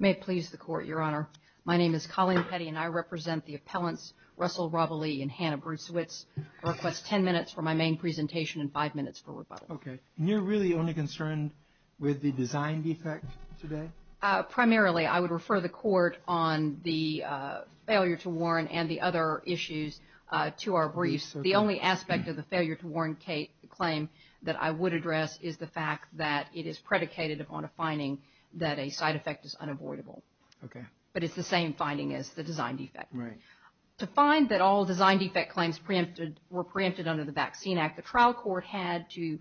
May it please the court, your honor. My name is Colleen Petty and I represent the appellants Russell Robilee and Hannah Bresewitz. I request ten minutes for my main presentation and five minutes for rebuttal. Okay. And you're really only concerned with the design defect today? Primarily, I would refer the court on the failure to warn and the other issues to our briefs. The only aspect of the failure to warn claim that I would address is the fact that it is predicated upon a finding that a side effect is unavoidable. Okay. But it's the same finding as the design defect. Right. To find that all design defect claims were preempted under the Vaccine Act, the trial court had to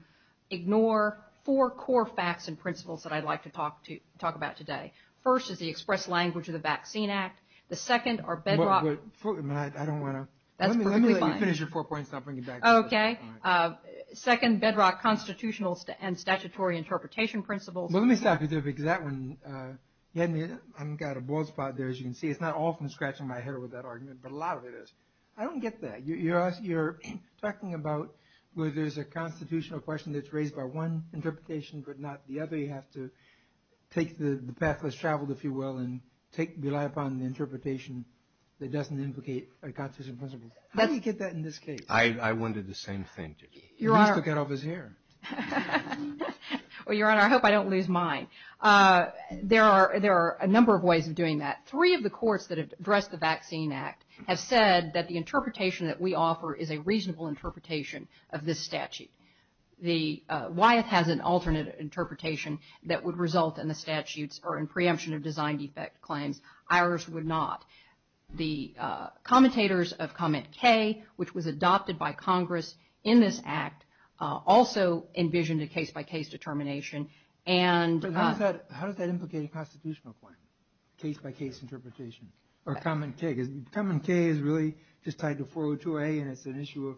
ignore four core facts and principles that I'd like to talk about today. First is the express language of the Vaccine Act. The second are bedrock... Wait, wait. I don't want to... That's perfectly fine. Let me let you finish your four points and I'll bring it back to you. Okay. Second, bedrock constitutional and statutory interpretation principles. Well, let me stop you there because that one, I've got a bald spot there as you can see. It's not often scratching my hair with that argument, but a lot of it is. I don't get that. You're talking about where there's a constitutional question that's raised by one interpretation, but not the other. You have to take the path that's traveled, if you will, and take, rely upon the interpretation that doesn't implicate a constitutional principle. How do you get that in this case? I wondered the same thing, too. Your Honor... At least I cut off his hair. Well, Your Honor, I hope I don't lose mine. There are a number of ways of doing that. Three of the courts that have addressed the Vaccine Act have said that the interpretation that we have is a reasonable interpretation of this statute. Wyeth has an alternate interpretation that would result in the statutes or in preemption of design defect claims. Ours would not. The commentators of Comment K, which was adopted by Congress in this act, also envisioned a case-by-case determination. How does that implicate a constitutional claim, case-by-case interpretation, or Comment K? Comment K is really just tied to 402A, and it's an issue of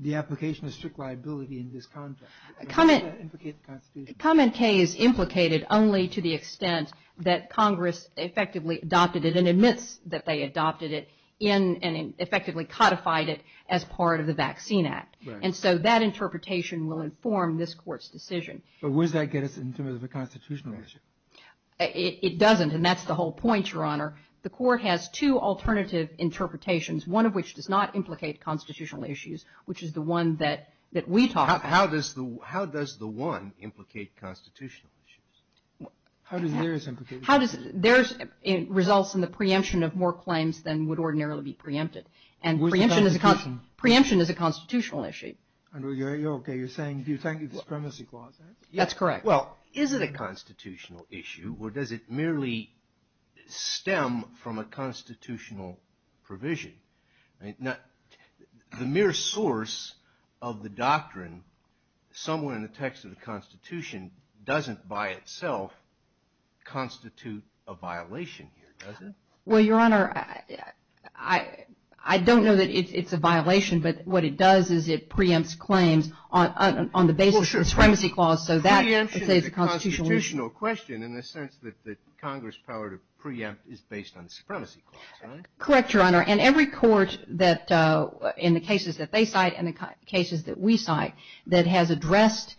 the application of strict liability in this context. How does that implicate the Constitution? Comment K is implicated only to the extent that Congress effectively adopted it and admits that they adopted it and effectively codified it as part of the Vaccine Act, and so that interpretation will inform this Court's decision. Where does that get us in terms of a constitutional issue? It doesn't, and that's the whole point, Your Honor. The Court has two alternative interpretations, one of which does not implicate constitutional issues, which is the one that we talk about. How does the one implicate constitutional issues? How does theirs implicate constitutional issues? Theirs results in the preemption of more claims than would ordinarily be preempted, and preemption is a constitutional issue. Andrew, are you okay? You're saying, do you think it's a supremacy clause? That's correct. Is it a constitutional issue, or does it merely stem from a constitutional provision? The mere source of the doctrine, somewhere in the text of the Constitution, doesn't by itself constitute a violation here, does it? Well, Your Honor, I don't know that it's a violation, but what it does is it preempts claims on the basis of a supremacy clause. Preemption is a constitutional question in the sense that the Congress' power to preempt is based on the supremacy clause, right? Correct, Your Honor, and every court in the cases that they cite and the cases that we cite that has addressed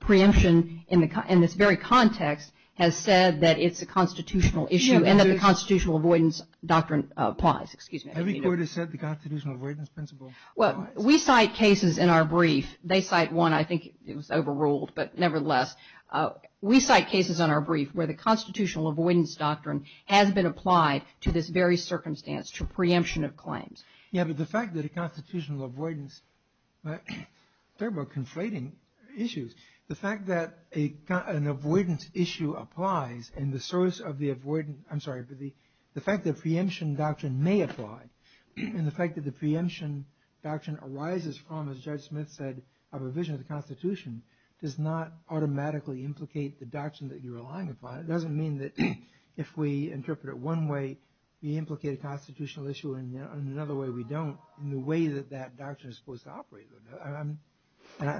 preemption in this very context has said that it's a constitutional issue and that the constitutional avoidance doctrine applies. Every court has said the constitutional avoidance principle applies? Well, we cite cases in our brief. They cite one. I think it was overruled, but nevertheless. We cite cases in our brief where the constitutional avoidance doctrine has been applied to this very circumstance, to preemption of claims. Yeah, but the fact that a constitutional avoidance – I'm talking about conflating issues. The fact that an avoidance issue applies and the source of the avoidance – I'm sorry, the fact that a preemption doctrine may apply and the fact that the preemption doctrine arises from, as Judge Smith said, a provision of the Constitution does not automatically implicate the doctrine that you're relying upon. It doesn't mean that if we interpret it one way, we implicate a constitutional issue and in another way we don't in the way that that doctrine is supposed to operate.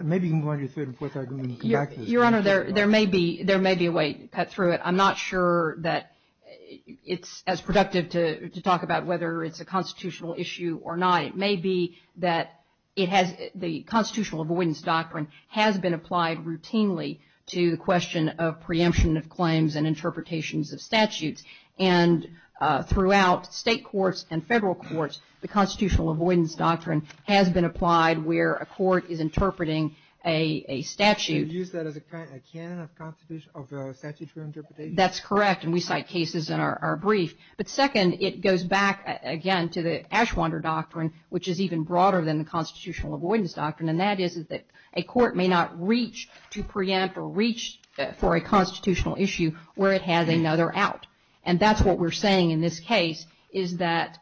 Maybe you can go on to your third and fourth argument and come back to this. Your Honor, there may be a way to cut through it. I'm not sure that it's as productive to talk about whether it's a constitutional issue or not. It may be that it has – the constitutional avoidance doctrine has been applied routinely to the question of preemption of claims and interpretations of statutes. And throughout state courts and federal courts, the constitutional avoidance doctrine has been applied where a court is interpreting a statute. You use that as a canon of constitutional – of statutory interpretation? That's correct, and we cite cases in our brief. But second, it goes back again to the Ashwander doctrine, which is even broader than the constitutional avoidance doctrine, and that is that a court may not reach to preempt or reach for a constitutional issue where it has another out. And that's what we're saying in this case, is that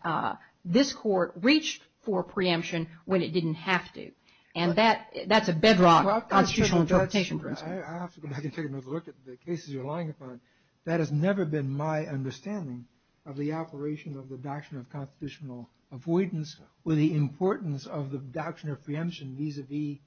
this court reached for preemption when it didn't have to. And that's a bedrock constitutional interpretation principle. I have to go back and take another look at the cases you're relying upon. That has never been my understanding of the operation of the doctrine of constitutional avoidance or the importance of the doctrine of preemption vis-a-vis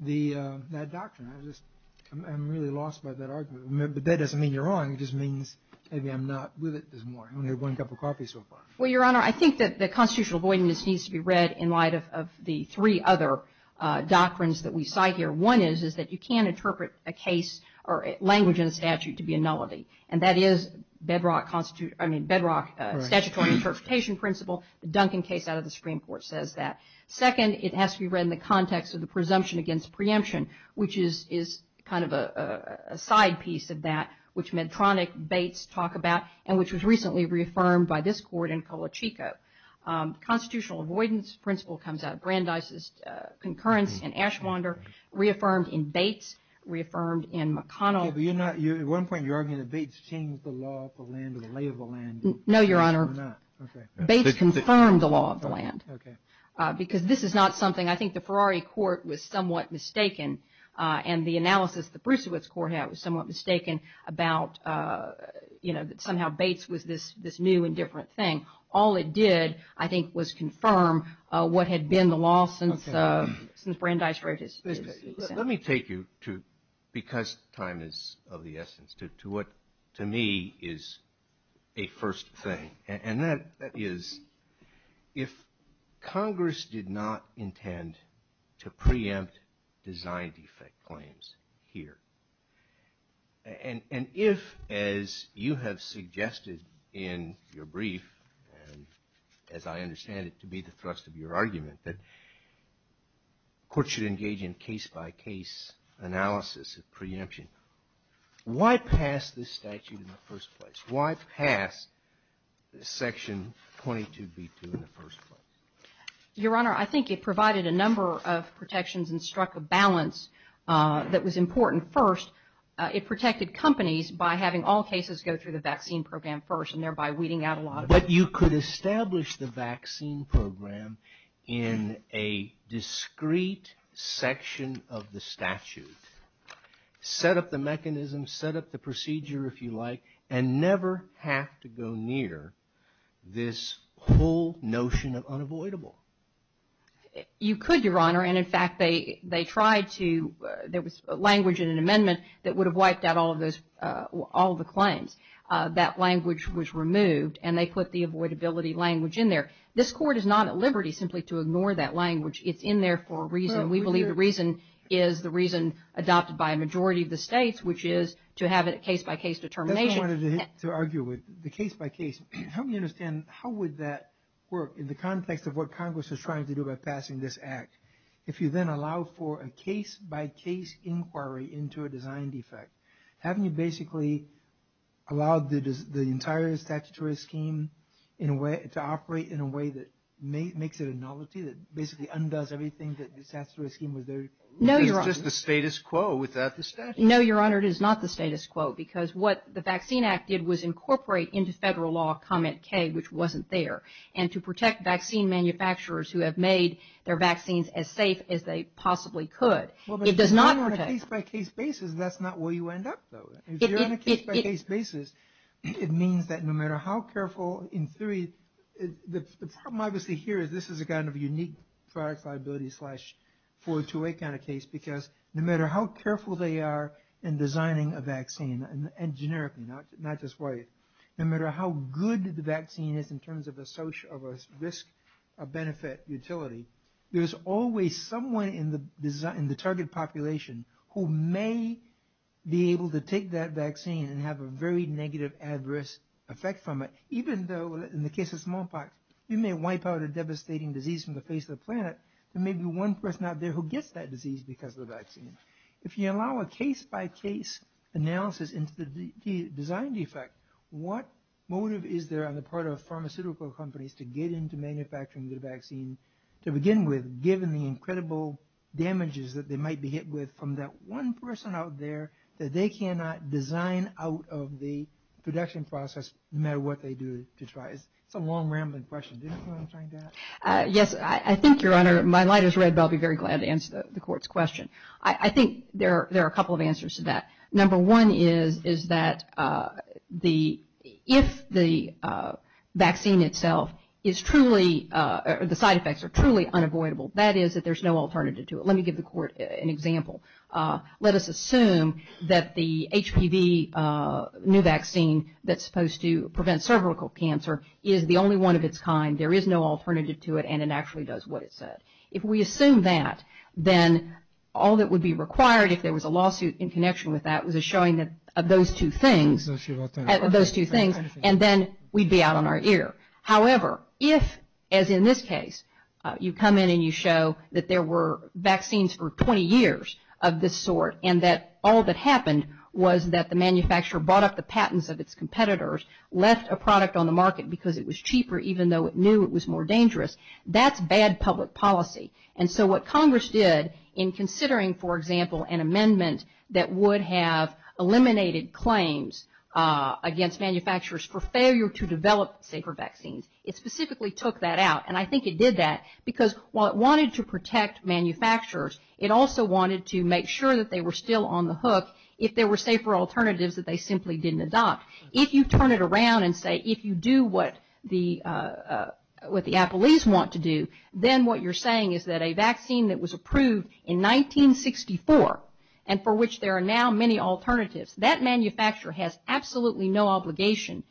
that doctrine. I just – I'm really lost by that argument. But that doesn't mean you're wrong. It just means maybe I'm not with it this morning. I only had one cup of coffee so far. Well, Your Honor, I think that the constitutional avoidance needs to be read in light of the three other doctrines that we cite here. One is that you can't interpret a case or language in a statute to be a nullity, and that is bedrock statutory interpretation principle. The Duncan case out of the Supreme Court says that. Second, it has to be read in the context of the presumption against preemption, which is kind of a side piece of that, which Medtronic, Bates talk about, and which was recently reaffirmed by this court in Colachico. Constitutional avoidance principle comes out of Brandeis' concurrence in Ashwander, reaffirmed in Bates, reaffirmed in McConnell. But you're not – at one point you're arguing that Bates changed the law of the land or the lay of the land. No, Your Honor. Okay. Bates confirmed the law of the land. Okay. Because this is not something – I think the Ferrari Court was somewhat mistaken, and the analysis the Brucewitz Court had was somewhat mistaken about, you know, that somehow Bates was this new and different thing. All it did, I think, was confirm what had been the law since Brandeis wrote his case. Let me take you to – because time is of the essence – to what, to me, is a first thing, and that is if Congress did not intend to preempt design defect claims here, and if, as you have suggested in your brief, and as I understand it to be the thrust of your argument, that courts should engage in case-by-case analysis of preemption. Why pass this statute in the first place? Why pass Section 22B2 in the first place? Your Honor, I think it provided a number of protections and struck a balance that was important. First, it protected companies by having all cases go through the vaccine program first, and thereby weeding out a lot of it. But you could establish the vaccine program in a discrete section of the statute, set up the mechanism, set up the procedure, if you like, and never have to go near this whole notion of unavoidable. You could, Your Honor. And, in fact, they tried to – there was language in an amendment that would have wiped out all the claims. That language was removed, and they put the avoidability language in there. This Court is not at liberty simply to ignore that language. It's in there for a reason. We believe the reason is the reason adopted by a majority of the states, which is to have a case-by-case determination. That's what I wanted to argue with, the case-by-case. Help me understand, how would that work in the context of what Congress is trying to do by passing this Act? If you then allow for a case-by-case inquiry into a design defect, haven't you basically allowed the entire statutory scheme to operate in a way that makes it a novelty, that basically undoes everything that the statutory scheme was there to do? No, Your Honor. It's just the status quo without the statute. No, Your Honor, it is not the status quo. Because what the Vaccine Act did was incorporate into federal law comment K, which wasn't there. And to protect vaccine manufacturers who have made their vaccines as safe as they possibly could. Well, but if you're doing it on a case-by-case basis, that's not where you end up, though. If you're on a case-by-case basis, it means that no matter how careful in theory, the problem, obviously, here is this is a kind of unique products liability slash 428 kind of case. Because no matter how careful they are in designing a vaccine, and generically, not just no matter how good the vaccine is in terms of a social risk, a benefit utility, there's always someone in the target population who may be able to take that vaccine and have a very negative adverse effect from it, even though in the case of smallpox, you may wipe out a devastating disease from the face of the planet. There may be one person out there who gets that disease because of the vaccine. If you allow a case-by-case analysis into the design defect, what motive is there on the part of pharmaceutical companies to get into manufacturing the vaccine to begin with, given the incredible damages that they might be hit with from that one person out there that they cannot design out of the production process, no matter what they do to try? It's a long, rambling question. Do you know what I'm trying to ask? Yes, I think, Your Honor, my light is red, but I'll be very glad to answer the court's question. I think there are a couple of answers to that. Number one is that if the vaccine itself is truly, the side effects are truly unavoidable, that is that there's no alternative to it. Let me give the court an example. Let us assume that the HPV new vaccine that's supposed to prevent cervical cancer is the only one of its kind. There is no alternative to it, and it actually does what it said. If we assume that, then all that would be required, if there was a lawsuit in connection with that, was a showing of those two things, and then we'd be out on our ear. However, if, as in this case, you come in and you show that there were vaccines for 20 years of this sort, and that all that happened was that the manufacturer bought up the patents of its competitors, left a product on the market because it was cheaper, even though it knew it was more dangerous, that's bad public policy. And so what Congress did in considering, for example, an amendment that would have eliminated claims against manufacturers for failure to develop safer vaccines, it specifically took that out. And I think it did that because while it wanted to protect manufacturers, it also wanted to make sure that they were still on the hook if there were safer alternatives that they simply didn't adopt. If you turn it around and say, if you do what the Applees want to do, then what you're saying is that a vaccine that was approved in 1964, and for which there are now many alternatives, that manufacturer has absolutely no obligation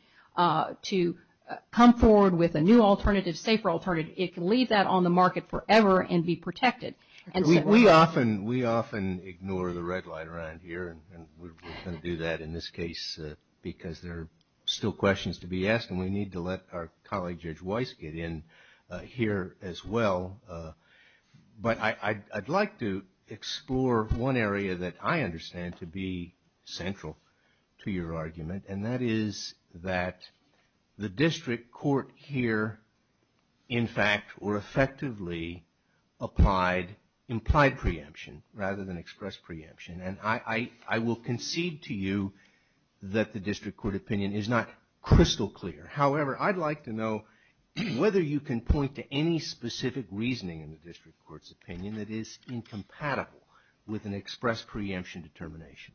to come forward with a new alternative, safer alternative. It can leave that on the market forever and be protected. We often ignore the red light around here, and we're going to do that in this case because there are still questions to be asked, and we need to let our colleague Judge Weiss get in here as well. But I'd like to explore one area that I understand to be central to your argument, and that is that the district court here in fact or effectively applied implied preemption rather than express preemption. And I will concede to you that the district court opinion is not crystal clear. However, I'd like to know whether you can point to any specific reasoning in the district court's opinion that is incompatible with an express preemption determination.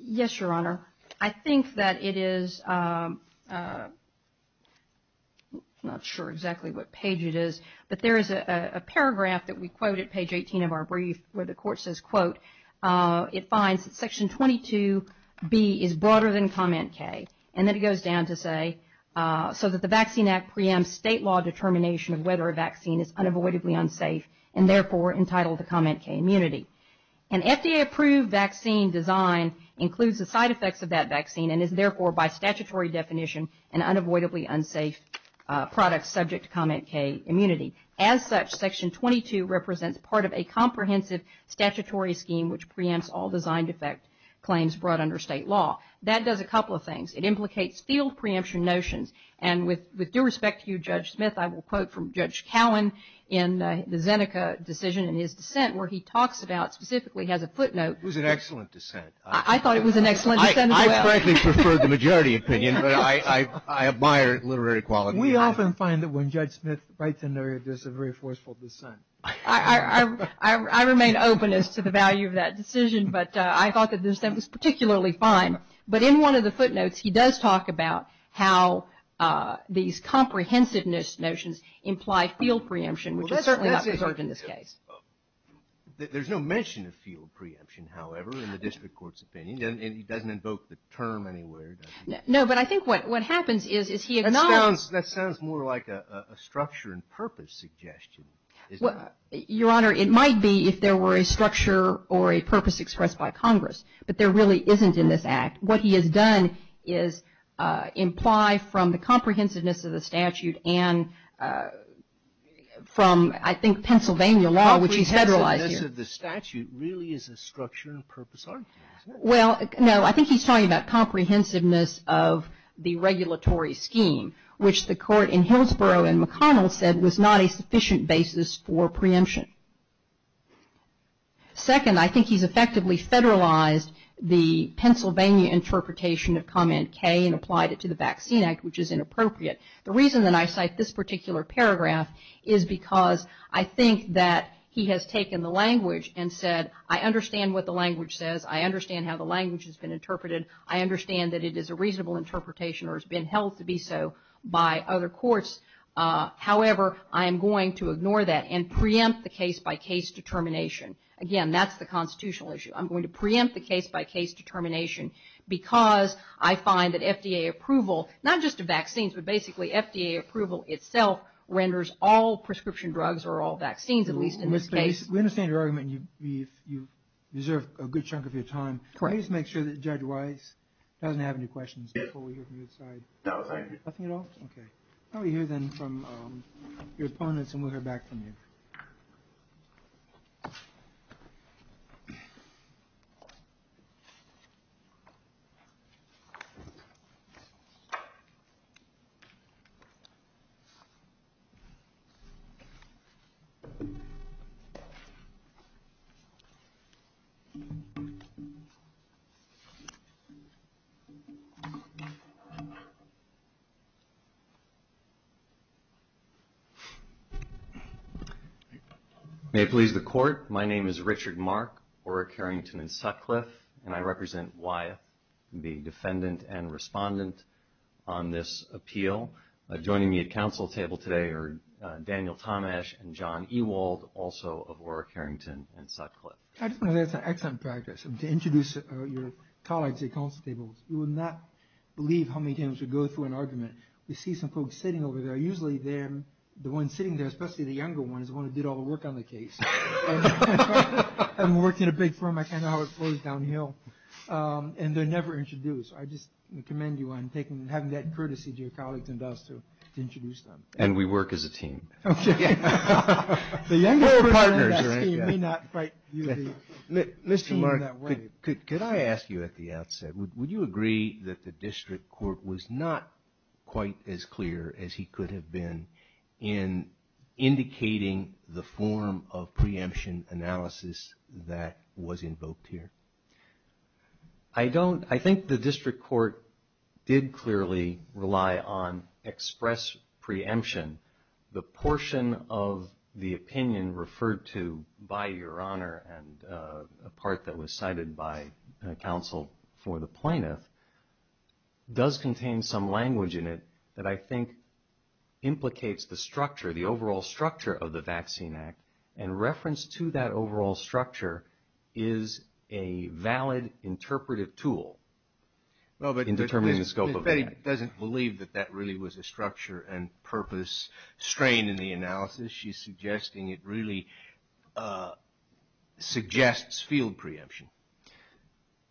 Yes, Your Honor. I think that it is, I'm not sure exactly what page it is, but there is a paragraph that we quote at page 18 of our brief where the court says, quote, it finds that section 22B is broader than comment K. And then it goes down to say, so that the Vaccine Act preempts state law determination of whether a vaccine is unavoidably unsafe and therefore entitled to comment K immunity. An FDA approved vaccine design includes the side effects of that vaccine and is therefore by statutory definition an unavoidably unsafe product subject to comment K immunity. As such, section 22 represents part of a comprehensive statutory scheme which preempts all design defect claims brought under state law. That does a couple of things. It implicates field preemption notions. And with due respect to you, Judge Smith, I will quote from Judge Cowan in the Zeneca decision in his dissent where he talks about, specifically has a footnote. It was an excellent dissent. I thought it was an excellent dissent as well. I frankly prefer the majority opinion, but I admire literary quality. We often find that when Judge Smith writes in there, there's a very forceful dissent. I remain open as to the value of that decision, but I thought that the dissent was particularly fine. But in one of the footnotes, he does talk about how these comprehensiveness notions imply field preemption, which is certainly not preserved in this case. Well, there's no mention of field preemption, however, in the district court's opinion. And he doesn't invoke the term anywhere, does he? No, but I think what happens is he acknowledges... That sounds more like a structure and purpose suggestion. Your Honor, it might be if there were a structure or a purpose expressed by Congress, but there really isn't in this act. What he has done is imply from the comprehensiveness of the statute and from, I think, Pennsylvania law, which he's federalized here. Comprehensiveness of the statute really is a structure and purpose argument, isn't it? Well, no, I think he's talking about comprehensiveness of the regulatory scheme, which the court in Hillsborough and McConnell said was not a sufficient basis for preemption. Second, I think he's effectively federalized the Pennsylvania interpretation of Comment K and applied it to the Vaccine Act, which is inappropriate. The reason that I cite this particular paragraph is because I think that he has taken the language and said, I understand what the language says. I understand how the language has been interpreted. I understand that it is a reasonable interpretation or has been held to be so by other courts. I'm going to preempt the case by case determination. Again, that's the constitutional issue. I'm going to preempt the case by case determination because I find that FDA approval, not just to vaccines, but basically FDA approval itself renders all prescription drugs or all vaccines, at least in this case. We understand your argument and you deserve a good chunk of your time. Correct. Let me just make sure that Judge Weiss doesn't have any questions before we hear from you inside. No, thank you. Nothing at all? Okay. I'll hear then from your opponents and we'll hear back from you. May it please the Court. My name is Richard Mark, Orrick, Harrington, and Sutcliffe, and I represent Weiss, the defendant and respondent on this appeal. Joining me at council table today are Daniel Tomash and John Ewald, also of Orrick, Harrington, and Sutcliffe. I just want to add some excellent practice. To introduce your colleagues at council tables, you would not believe how many times we go through an argument. We see some folks sitting over there. Usually, the one sitting there, especially the younger one, is the one who did all the work on the case. I've worked in a big firm. I kind of know how it flows downhill. And they're never introduced. I just commend you on having that courtesy to your colleagues and us to introduce them. And we work as a team. The younger person on that team may not quite view the team that way. Could I ask you at the outset, would you agree that the district court was not quite as clear as he could have been in indicating the form of preemption analysis that was invoked here? I don't. I think the district court did clearly rely on express preemption. The portion of the opinion referred to by Your Honor, and a part that was cited by counsel for the plaintiff, does contain some language in it that I think implicates the structure, the overall structure of the Vaccine Act. And reference to that overall structure is a valid interpretive tool in determining the scope of the act. But Betty doesn't believe that that really was a structure and purpose strain in the analysis. She's suggesting it really suggests field preemption.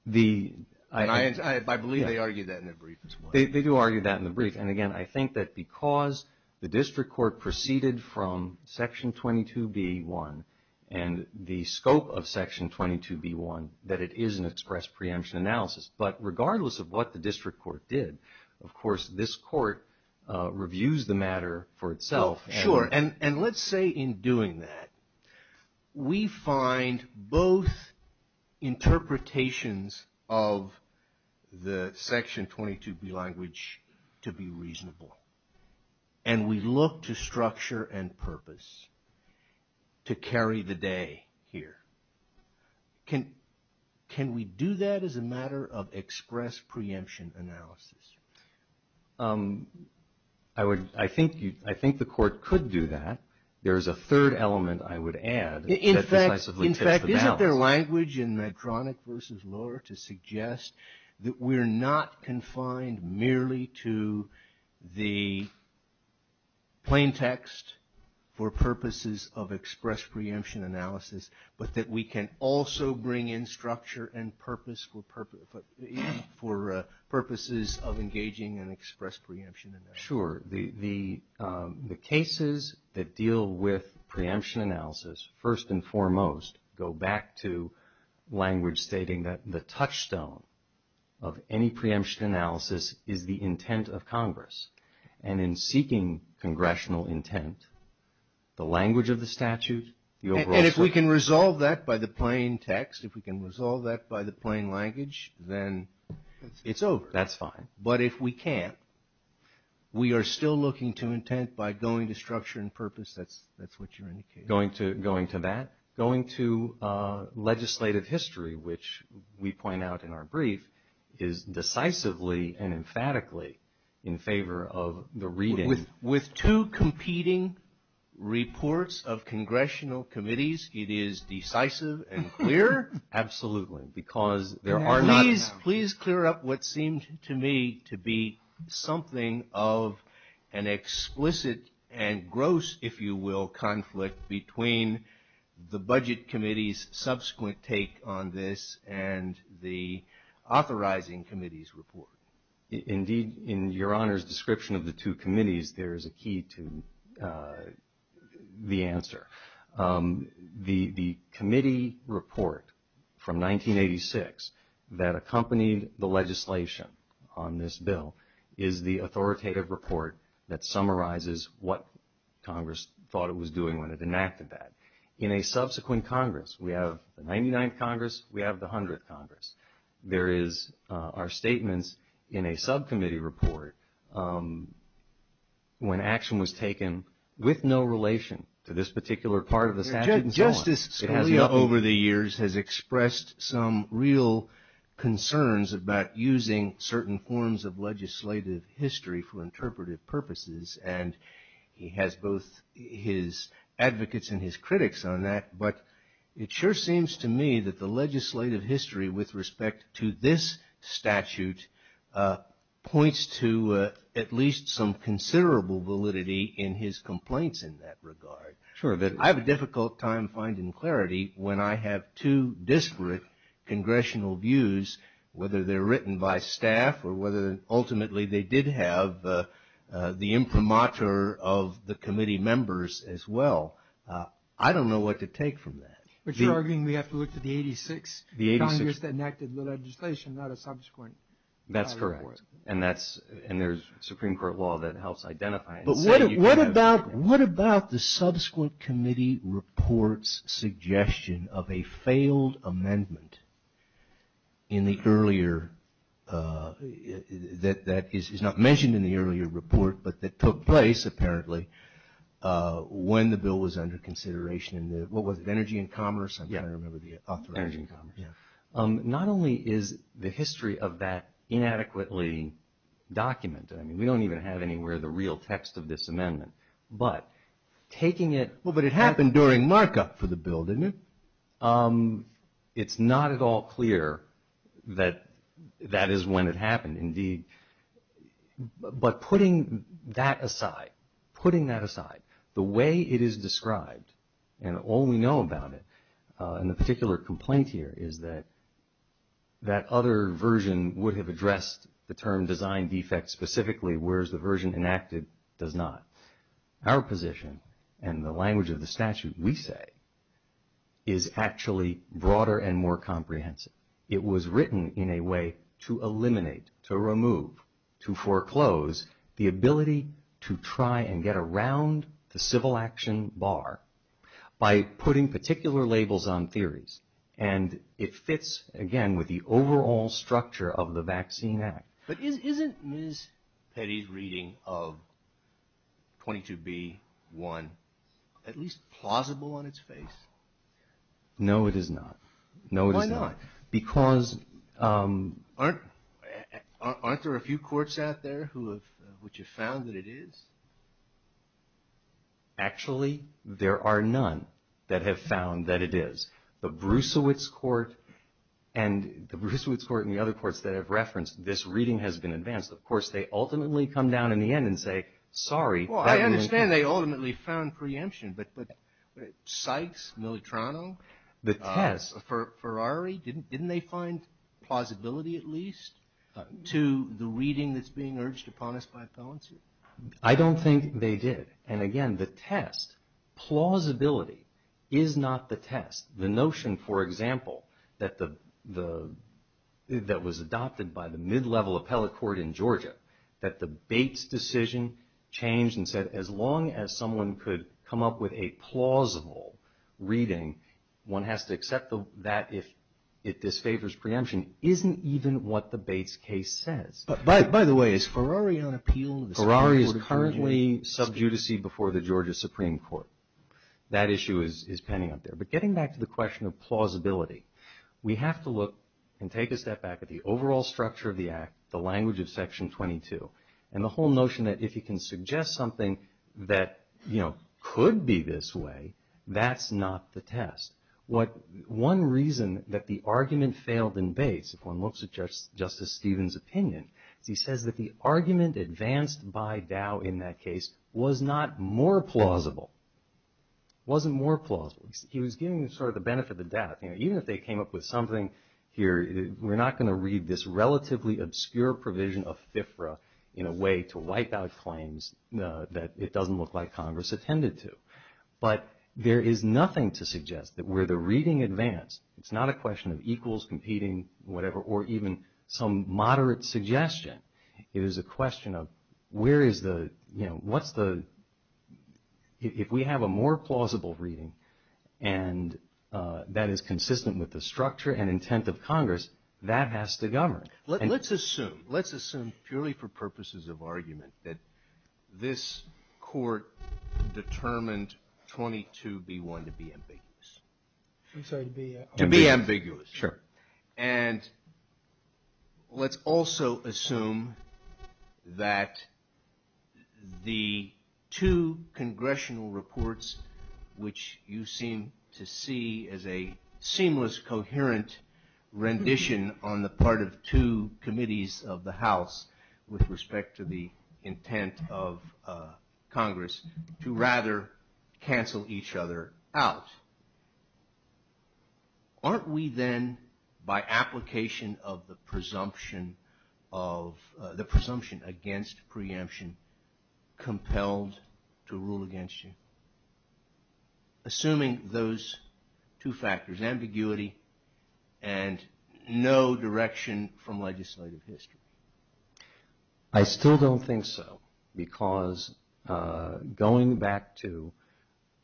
And I believe they argued that in the brief as well. They do argue that in the brief. And again, I think that because the district court proceeded from Section 22B1 and the scope of Section 22B1, that it is an express preemption analysis. But regardless of what the district court did, of course, this court reviews the matter for itself. Sure, and let's say in doing that, we find both interpretations of the Section 22B language to be reasonable. And we look to structure and purpose to carry the day here. Can we do that as a matter of express preemption analysis? I would, I think the court could do that. There is a third element I would add. In fact, isn't there language in Medtronic v. Lohr to suggest that we're not confined merely to the plain text for purposes of express preemption analysis, but that we can also bring in structure and purpose for purposes of engaging in express preemption analysis? Sure. The cases that deal with preemption analysis, first and foremost, go back to language stating that the touchstone of any preemption analysis is the intent of Congress. And in seeking congressional intent, the language of the statute, the overall... And if we can resolve that by the plain text, if we can resolve that by the plain language, then it's over. That's fine. But if we can't, we are still looking to intent by going to structure and purpose. That's what you're indicating. Going to that, going to legislative history, which we point out in our brief, is decisively and emphatically in favor of the reading... It is decisive and clear? Absolutely. Because there are not... Please clear up what seemed to me to be something of an explicit and gross, if you will, conflict between the budget committee's subsequent take on this and the authorizing committee's report. Indeed, in Your Honor's description of the two committees, there is a key to the answer. The committee report from 1986 that accompanied the legislation on this bill is the authoritative report that summarizes what Congress thought it was doing when it enacted that. In a subsequent Congress, we have the 99th Congress, we have the 100th Congress. There is our statements in a subcommittee report when action was taken with no relation to this particular part of the statute. Justice Scalia over the years has expressed some real concerns about using certain forms of legislative history for interpretive purposes. And he has both his advocates and his critics on that. But it sure seems to me that the legislative history with respect to this statute points to at least some considerable validity in his complaints in that regard. I have a difficult time finding clarity when I have two disparate congressional views, whether they're written by staff or whether ultimately they did have the imprimatur of the committee members as well. I don't know what to take from that. But you're arguing we have to look to the 86th Congress that enacted the legislation, not a subsequent. That's correct. And there's Supreme Court law that helps identify it. What about the subsequent committee report's suggestion of a failed amendment in the earlier, that is not mentioned in the earlier report, but that took place apparently when the bill was under consideration in the, what was it, Energy and Commerce? I'm trying to remember the authorizing. Not only is the history of that inadequately documented, we don't even have anywhere the real text of this amendment, but taking it- Well, but it happened during markup for the bill, didn't it? It's not at all clear that that is when it happened, indeed. But putting that aside, putting that aside, the way it is described, and all we know about it, and the particular complaint here is that that other version would have addressed the term design defect specifically, whereas the version enacted does not. Our position, and the language of the statute we say, is actually broader and more comprehensive. It was written in a way to eliminate, to remove, to foreclose, the ability to try and get around the civil action bar by putting particular labels on theories. And it fits, again, with the overall structure of the Vaccine Act. But isn't Ms. Petty's reading of 22B-1 at least plausible on its face? No, it is not. No, it is not. Why not? Because- Aren't there a few courts out there which have found that it is? Actually, there are none that have found that it is. The Brucewitz Court and the other courts that I've referenced, this reading has been advanced. Of course, they ultimately come down in the end and say, sorry- Well, I understand they ultimately found preemption. But Sykes, Militrano, Ferrari, didn't they find plausibility at least to the reading that's being urged upon us by a felon suit? I don't think they did. And again, the test, plausibility, is not the test. The notion, for example, that was adopted by the mid-level appellate court in Georgia, that the Bates decision changed and said, as long as someone could come up with a plausible reading, one has to accept that if it disfavors preemption, isn't even what the Bates case says. By the way, is Ferrari on appeal? Ferrari is currently sub judice before the Georgia Supreme Court. That issue is pending out there. But getting back to the question of plausibility, we have to look and take a step back at the overall structure of the Act, the language of Section 22, and the whole notion that if you can suggest something that could be this way, that's not the test. One reason that the argument failed in Bates, if one looks at Justice Stevens' opinion, is he says that the argument advanced by Dow in that case was not more plausible, wasn't more plausible. He was giving sort of the benefit of the doubt. Even if they came up with something here, we're not going to read this relatively obscure provision of FIFRA in a way to wipe out claims that it doesn't look like Congress attended to. But there is nothing to suggest that where the reading advanced, it's not a question of equals competing, whatever, or even some moderate suggestion. It is a question of where is the, you know, what's the... If we have a more plausible reading, and that is consistent with the structure and intent of Congress, that has to govern. Let's assume, let's assume purely for purposes of argument, that this Court determined 22B1 to be ambiguous. To be ambiguous. Sure. And let's also assume that the two congressional reports, which you seem to see as a seamless, coherent rendition on the part of two committees of the House with respect to the intent of Congress, to rather cancel each other out. Aren't we then, by application of the presumption of, the presumption against preemption, compelled to rule against you? Assuming those two factors, ambiguity and no direction from legislative history. I still don't think so. Because going back to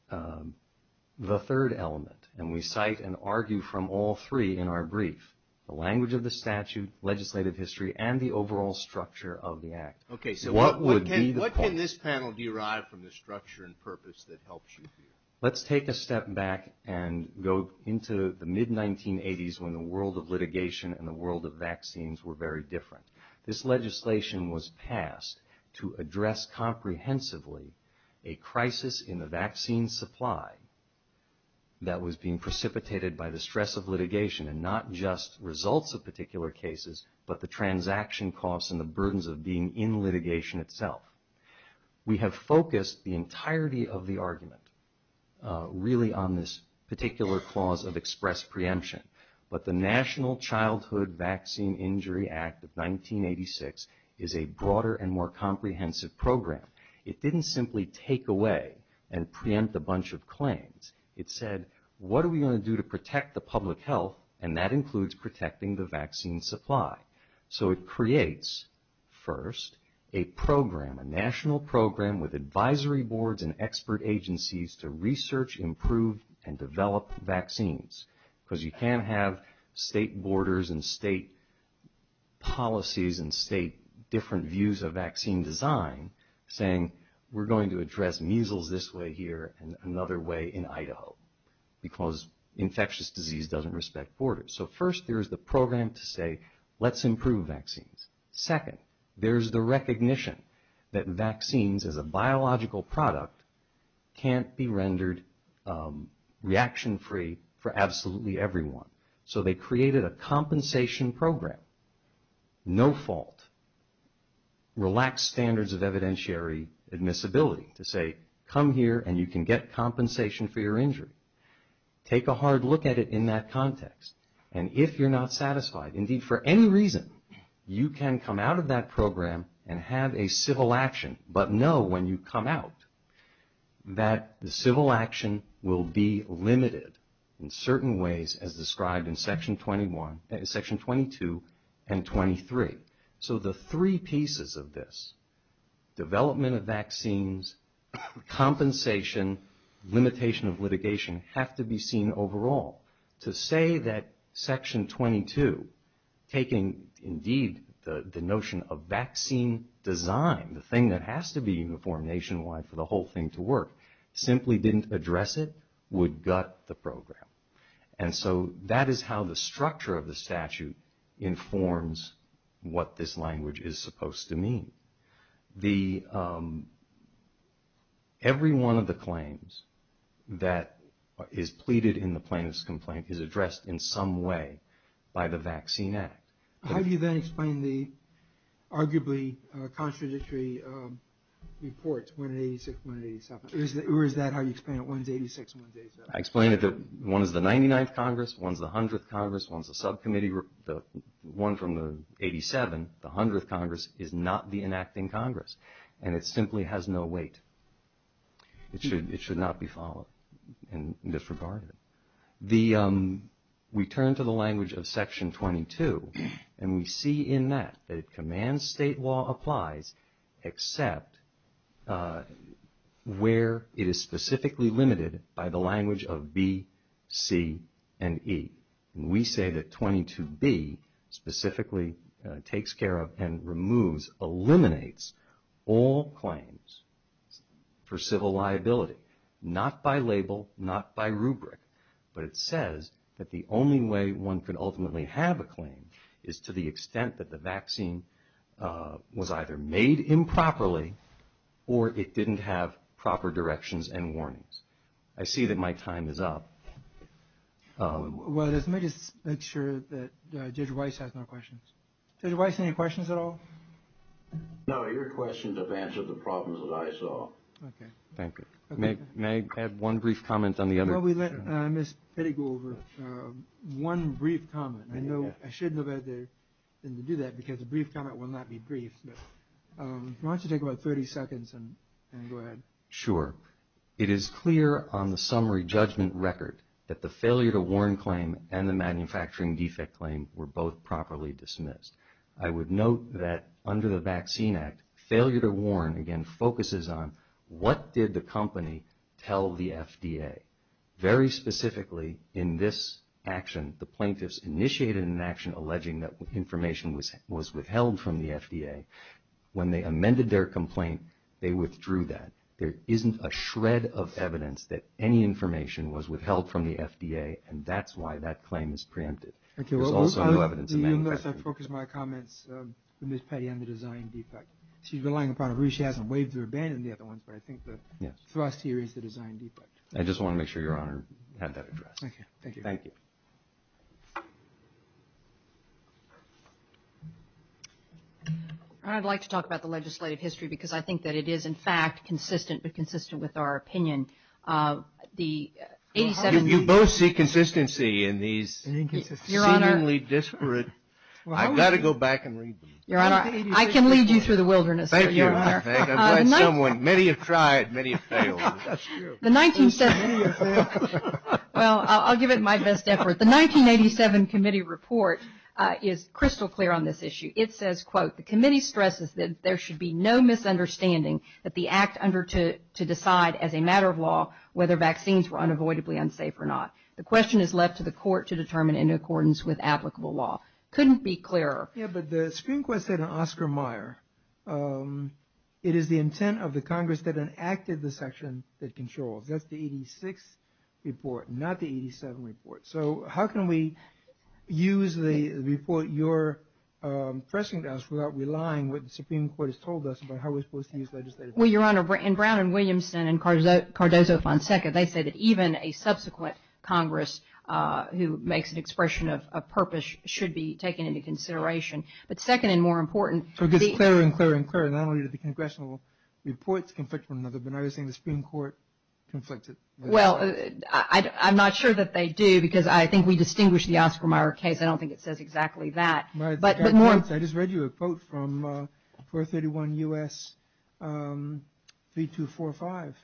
the third element, and we cite and argue from all three in our brief, the language of the statute, legislative history, and the overall structure of the act. Okay, so what can this panel derive from the structure and purpose that helps you here? Let's take a step back and go into the mid-1980s, when the world of litigation and the world of vaccines were very different. This legislation was passed to address comprehensively a crisis in the vaccine supply that was being precipitated by the stress of litigation, and not just results of particular cases, but the transaction costs and the burdens of being in litigation itself. We have focused the entirety of the argument really on this particular clause of express preemption. But the National Childhood Vaccine Injury Act of 1986 is a broader and more comprehensive program. It didn't simply take away and preempt a bunch of claims. It said, what are we going to do to protect the public health? And that includes protecting the vaccine supply. So it creates, first, a program, a national program with advisory boards and expert agencies to research, improve, and develop vaccines. Because you can't have state borders and state policies and state different views of vaccine design saying, we're going to address measles this way here and another way in Idaho, because infectious disease doesn't respect borders. So first, there's the program to say, let's improve vaccines. Second, there's the recognition that vaccines as a biological product can't be rendered reaction-free for absolutely everyone. So they created a compensation program, no fault, relaxed standards of evidentiary admissibility to say, come here and you can get compensation for your injury. Take a hard look at it in that context. And if you're not satisfied, indeed, for any reason, you can come out of that program and have a civil action, but know when you come out that the civil action will be limited in certain ways as described in Section 22 and 23. So the three pieces of this, development of vaccines, compensation, limitation of litigation, have to be seen overall. To say that Section 22, taking, indeed, the notion of vaccine design, the thing that has to be uniform nationwide for the whole thing to work, simply didn't address it would gut the program. And so that is how the structure of the statute informs what this language is supposed to mean. Every one of the claims that is pleaded in the plaintiff's complaint is addressed in some way by the Vaccine Act. How do you then explain the arguably contradictory reports, 186, 187? Or is that how you explain it? One's 86, one's 87? I explain it that one is the 99th Congress, one's the 100th Congress, one's the subcommittee, one from the 87, the 100th Congress, is not the enacting Congress. And it simply has no weight. It should not be followed and disregarded. The, we turn to the language of Section 22, and we see in that that it commands state law applies, except where it is specifically limited by the language of B, C, and E. We say that 22B specifically takes care of and removes, eliminates all claims for civil liability, not by label, not by rubric. But it says that the only way one could ultimately have a claim is to the extent that the vaccine was either made improperly or it didn't have proper directions and warnings. I see that my time is up. Well, let me just make sure that Judge Weiss has no questions. Judge Weiss, any questions at all? No, your questions have answered the problems that I saw. Okay. Thank you. May I have one brief comment on the other? While we let Ms. Pettigrew over, one brief comment. I know I shouldn't have had to do that because a brief comment will not be brief. But why don't you take about 30 seconds and go ahead. Sure. It is clear on the summary judgment record that the failure to warn claim and the manufacturing defect claim were both properly dismissed. I would note that under the Vaccine Act, failure to warn again focuses on what did the company tell the FDA? Very specifically in this action, the plaintiffs initiated an action alleging that information was withheld from the FDA. When they amended their complaint, they withdrew that. There isn't a shred of evidence that any information was withheld from the FDA. And that's why that claim is preempted. Thank you. There's also no evidence of manufacturing defect. Unless I focus my comments on Ms. Pettigrew and the design defect. She's relying upon a rule. She hasn't waived or abandoned the other ones. But I think the thrust here is the design defect. I just want to make sure Your Honor had that addressed. Okay. Thank you. Thank you. I'd like to talk about the legislative history because I think that it is, in fact, consistent, but consistent with our opinion. The 87... You both see consistency in these seemingly disparate... I've got to go back and read them. Your Honor, I can lead you through the wilderness. Thank you, Your Honor. I'm glad someone... Many have tried. Many have failed. That's true. Well, I'll give it my best effort. The 1987 committee report is crystal clear on this issue. It says, quote, the committee stresses that there should be no misunderstanding that the act under to decide as a matter of law whether vaccines were unavoidably unsafe or not. The question is left to the court to determine in accordance with applicable law. Couldn't be clearer. Yeah, but the Supreme Court said in Oscar Meyer, it is the intent of the Congress that enacted the section that controls. That's the 86 report, not the 87 report. So how can we use the report you're pressing to us without relying what the Supreme Court has told us about how we're supposed to use legislative... Well, Your Honor, in Brown and Williamson and Cardozo-Fonseca, they say that even a subsequent Congress who makes an expression of purpose should be taken into consideration. But second and more important... So it gets clearer and clearer and clearer. Not only did the congressional reports conflict with one another, but now you're saying the Supreme Court conflicted. Well, I'm not sure that they do because I think we distinguish the Oscar Meyer case. I don't think it says exactly that. I just read you a quote from 431 U.S. 3245.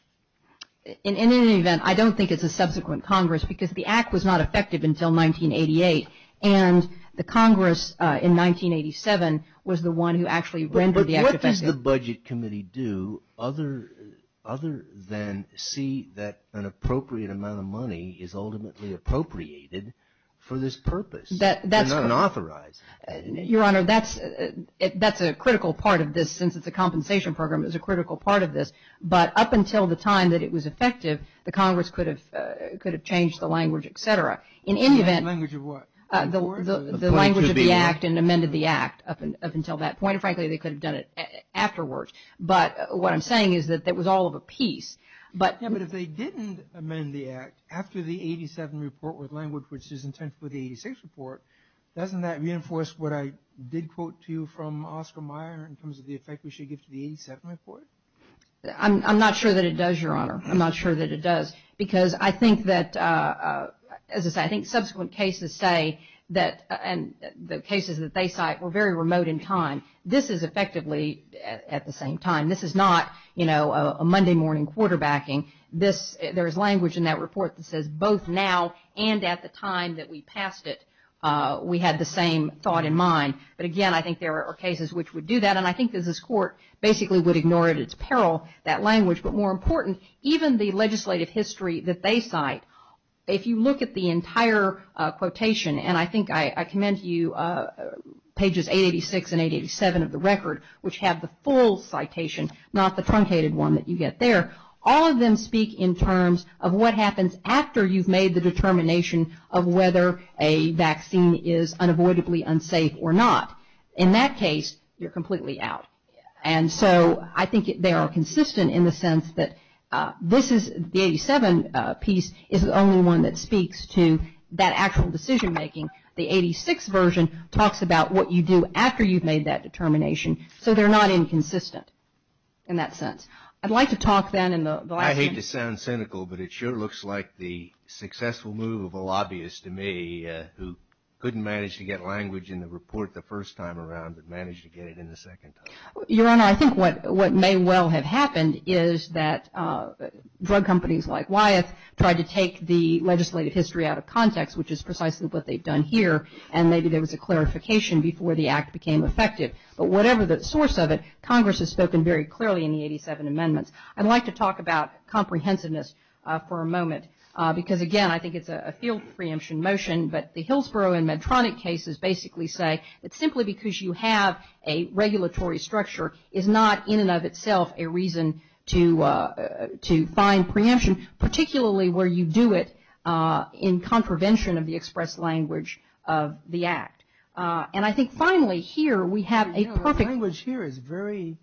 In any event, I don't think it's a subsequent Congress because the act was not effective until 1988. And the Congress in 1987 was the one who actually rendered the act effective. What does the Budget Committee do other than see that an appropriate amount of money is ultimately appropriated for this purpose and not authorized? Your Honor, that's a critical part of this since it's a compensation program. It's a critical part of this. But up until the time that it was effective, the Congress could have changed the language, et cetera. In any event, the language of the act and amended the act up until that point. Frankly, they could have done it afterwards. But what I'm saying is that it was all of a piece. Yeah, but if they didn't amend the act after the 87 report with language which is intended for the 86 report, doesn't that reinforce what I did quote to you from Oscar Meyer in terms of the effect we should give to the 87 report? I'm not sure that it does, Your Honor. I'm not sure that it does because I think that, as I say, I think subsequent cases say that the cases that they cite were very remote in time. This is effectively at the same time. This is not a Monday morning quarterbacking. There is language in that report that says both now and at the time that we passed it, we had the same thought in mind. But again, I think there are cases which would do that. And I think that this court basically would ignore it. It's peril, that language. But more important, even the legislative history that they cite, if you look at the entire quotation, and I think I commend to you pages 886 and 887 of the record, which have the full citation, not the truncated one that you get there, all of them speak in terms of what happens after you've made the determination of whether a vaccine is unavoidably unsafe or not. In that case, you're completely out. And so I think they are consistent in the sense that this is, the 87 piece is the only one that speaks to that actual decision-making. The 86 version talks about what you do after you've made that determination. So they're not inconsistent in that sense. I'd like to talk then in the- I hate to sound cynical, but it sure looks like the successful move of a lobbyist to me who couldn't manage to get language in the report the first time around, but managed to get it in the second time. Your Honor, I think what may well have happened is that drug companies like Wyeth tried to take the legislative history out of context, which is precisely what they've done here. And maybe there was a clarification before the act became effective. But whatever the source of it, Congress has spoken very clearly in the 87 amendments. I'd like to talk about comprehensiveness for a moment because again, I think it's a field preemption motion, but the Hillsborough and Medtronic cases basically say that simply because you have a regulatory structure is not in and of itself a reason to find preemption, particularly where you do it in contravention of the express language of the act. And I think finally here we have a perfect- Language here is very,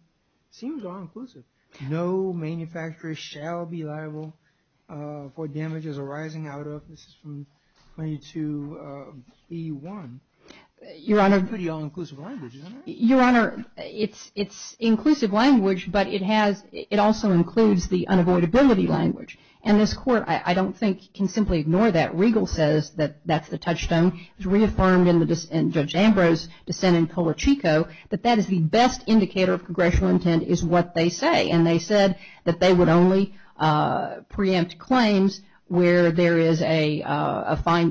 seems all inclusive. No manufacturer shall be liable for damages arising out of, this is from 22E1. Your Honor- Pretty all-inclusive language, isn't it? Your Honor, it's inclusive language, but it also includes the unavoidability language. And this court, I don't think, can simply ignore that. Regal says that that's the touchstone. It was reaffirmed in Judge Ambrose's dissent in Polachico that that is the best indicator of congressional intent is what they say. And they said that they would only preempt claims where there is a fine,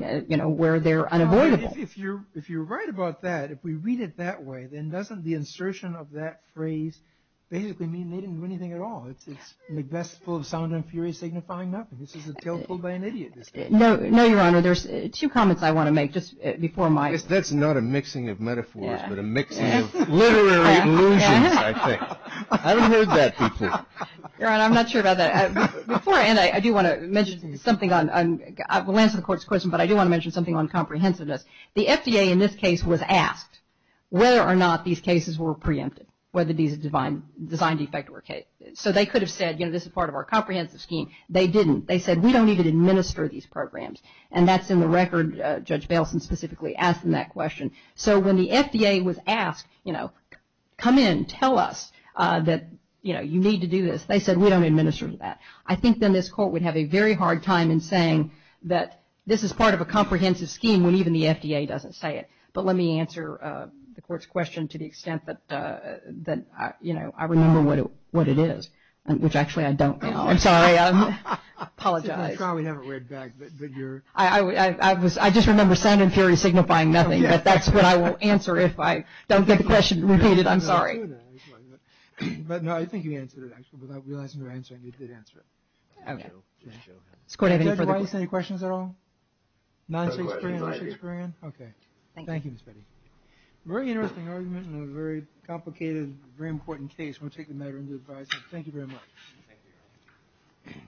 where they're unavoidable. If you're right about that, if we read it that way, then doesn't the insertion of that phrase basically mean they didn't do anything at all? It's Macbeth full of sound and fury signifying nothing. This is a tale told by an idiot. No, Your Honor, there's two comments I want to make, just before my- That's not a mixing of metaphors, but a mixing of literary illusions, I think. I haven't heard that before. Your Honor, I'm not sure about that. Before I end, I do want to mention something on, I will answer the court's question, but I do want to mention something on comprehensiveness. The FDA, in this case, was asked whether or not these cases were preempted, whether these design defect were. So they could have said, this is part of our comprehensive scheme. They didn't. They said, we don't need to administer these programs. And that's in the record. Judge Baleson specifically asked them that question. So when the FDA was asked, come in, tell us that you need to do this. They said, we don't administer that. I think then this court would have a very hard time in saying that this is part of a comprehensive scheme when even the FDA doesn't say it. But let me answer the court's question to the extent that, that, you know, I remember what it is, which actually I don't now. I'm sorry. I apologize. I just remember sound and fury signifying nothing, but that's what I will answer if I don't get the question repeated. I'm sorry. But no, I think you answered it actually, without realizing you're answering, you did answer it. Okay. Judge, do I have any questions at all? 96 grand, 96 grand. Okay. Thank you, Ms. Petty. Very interesting argument in a very complicated, very important case. We'll take the matter into the advisory. Thank you very much.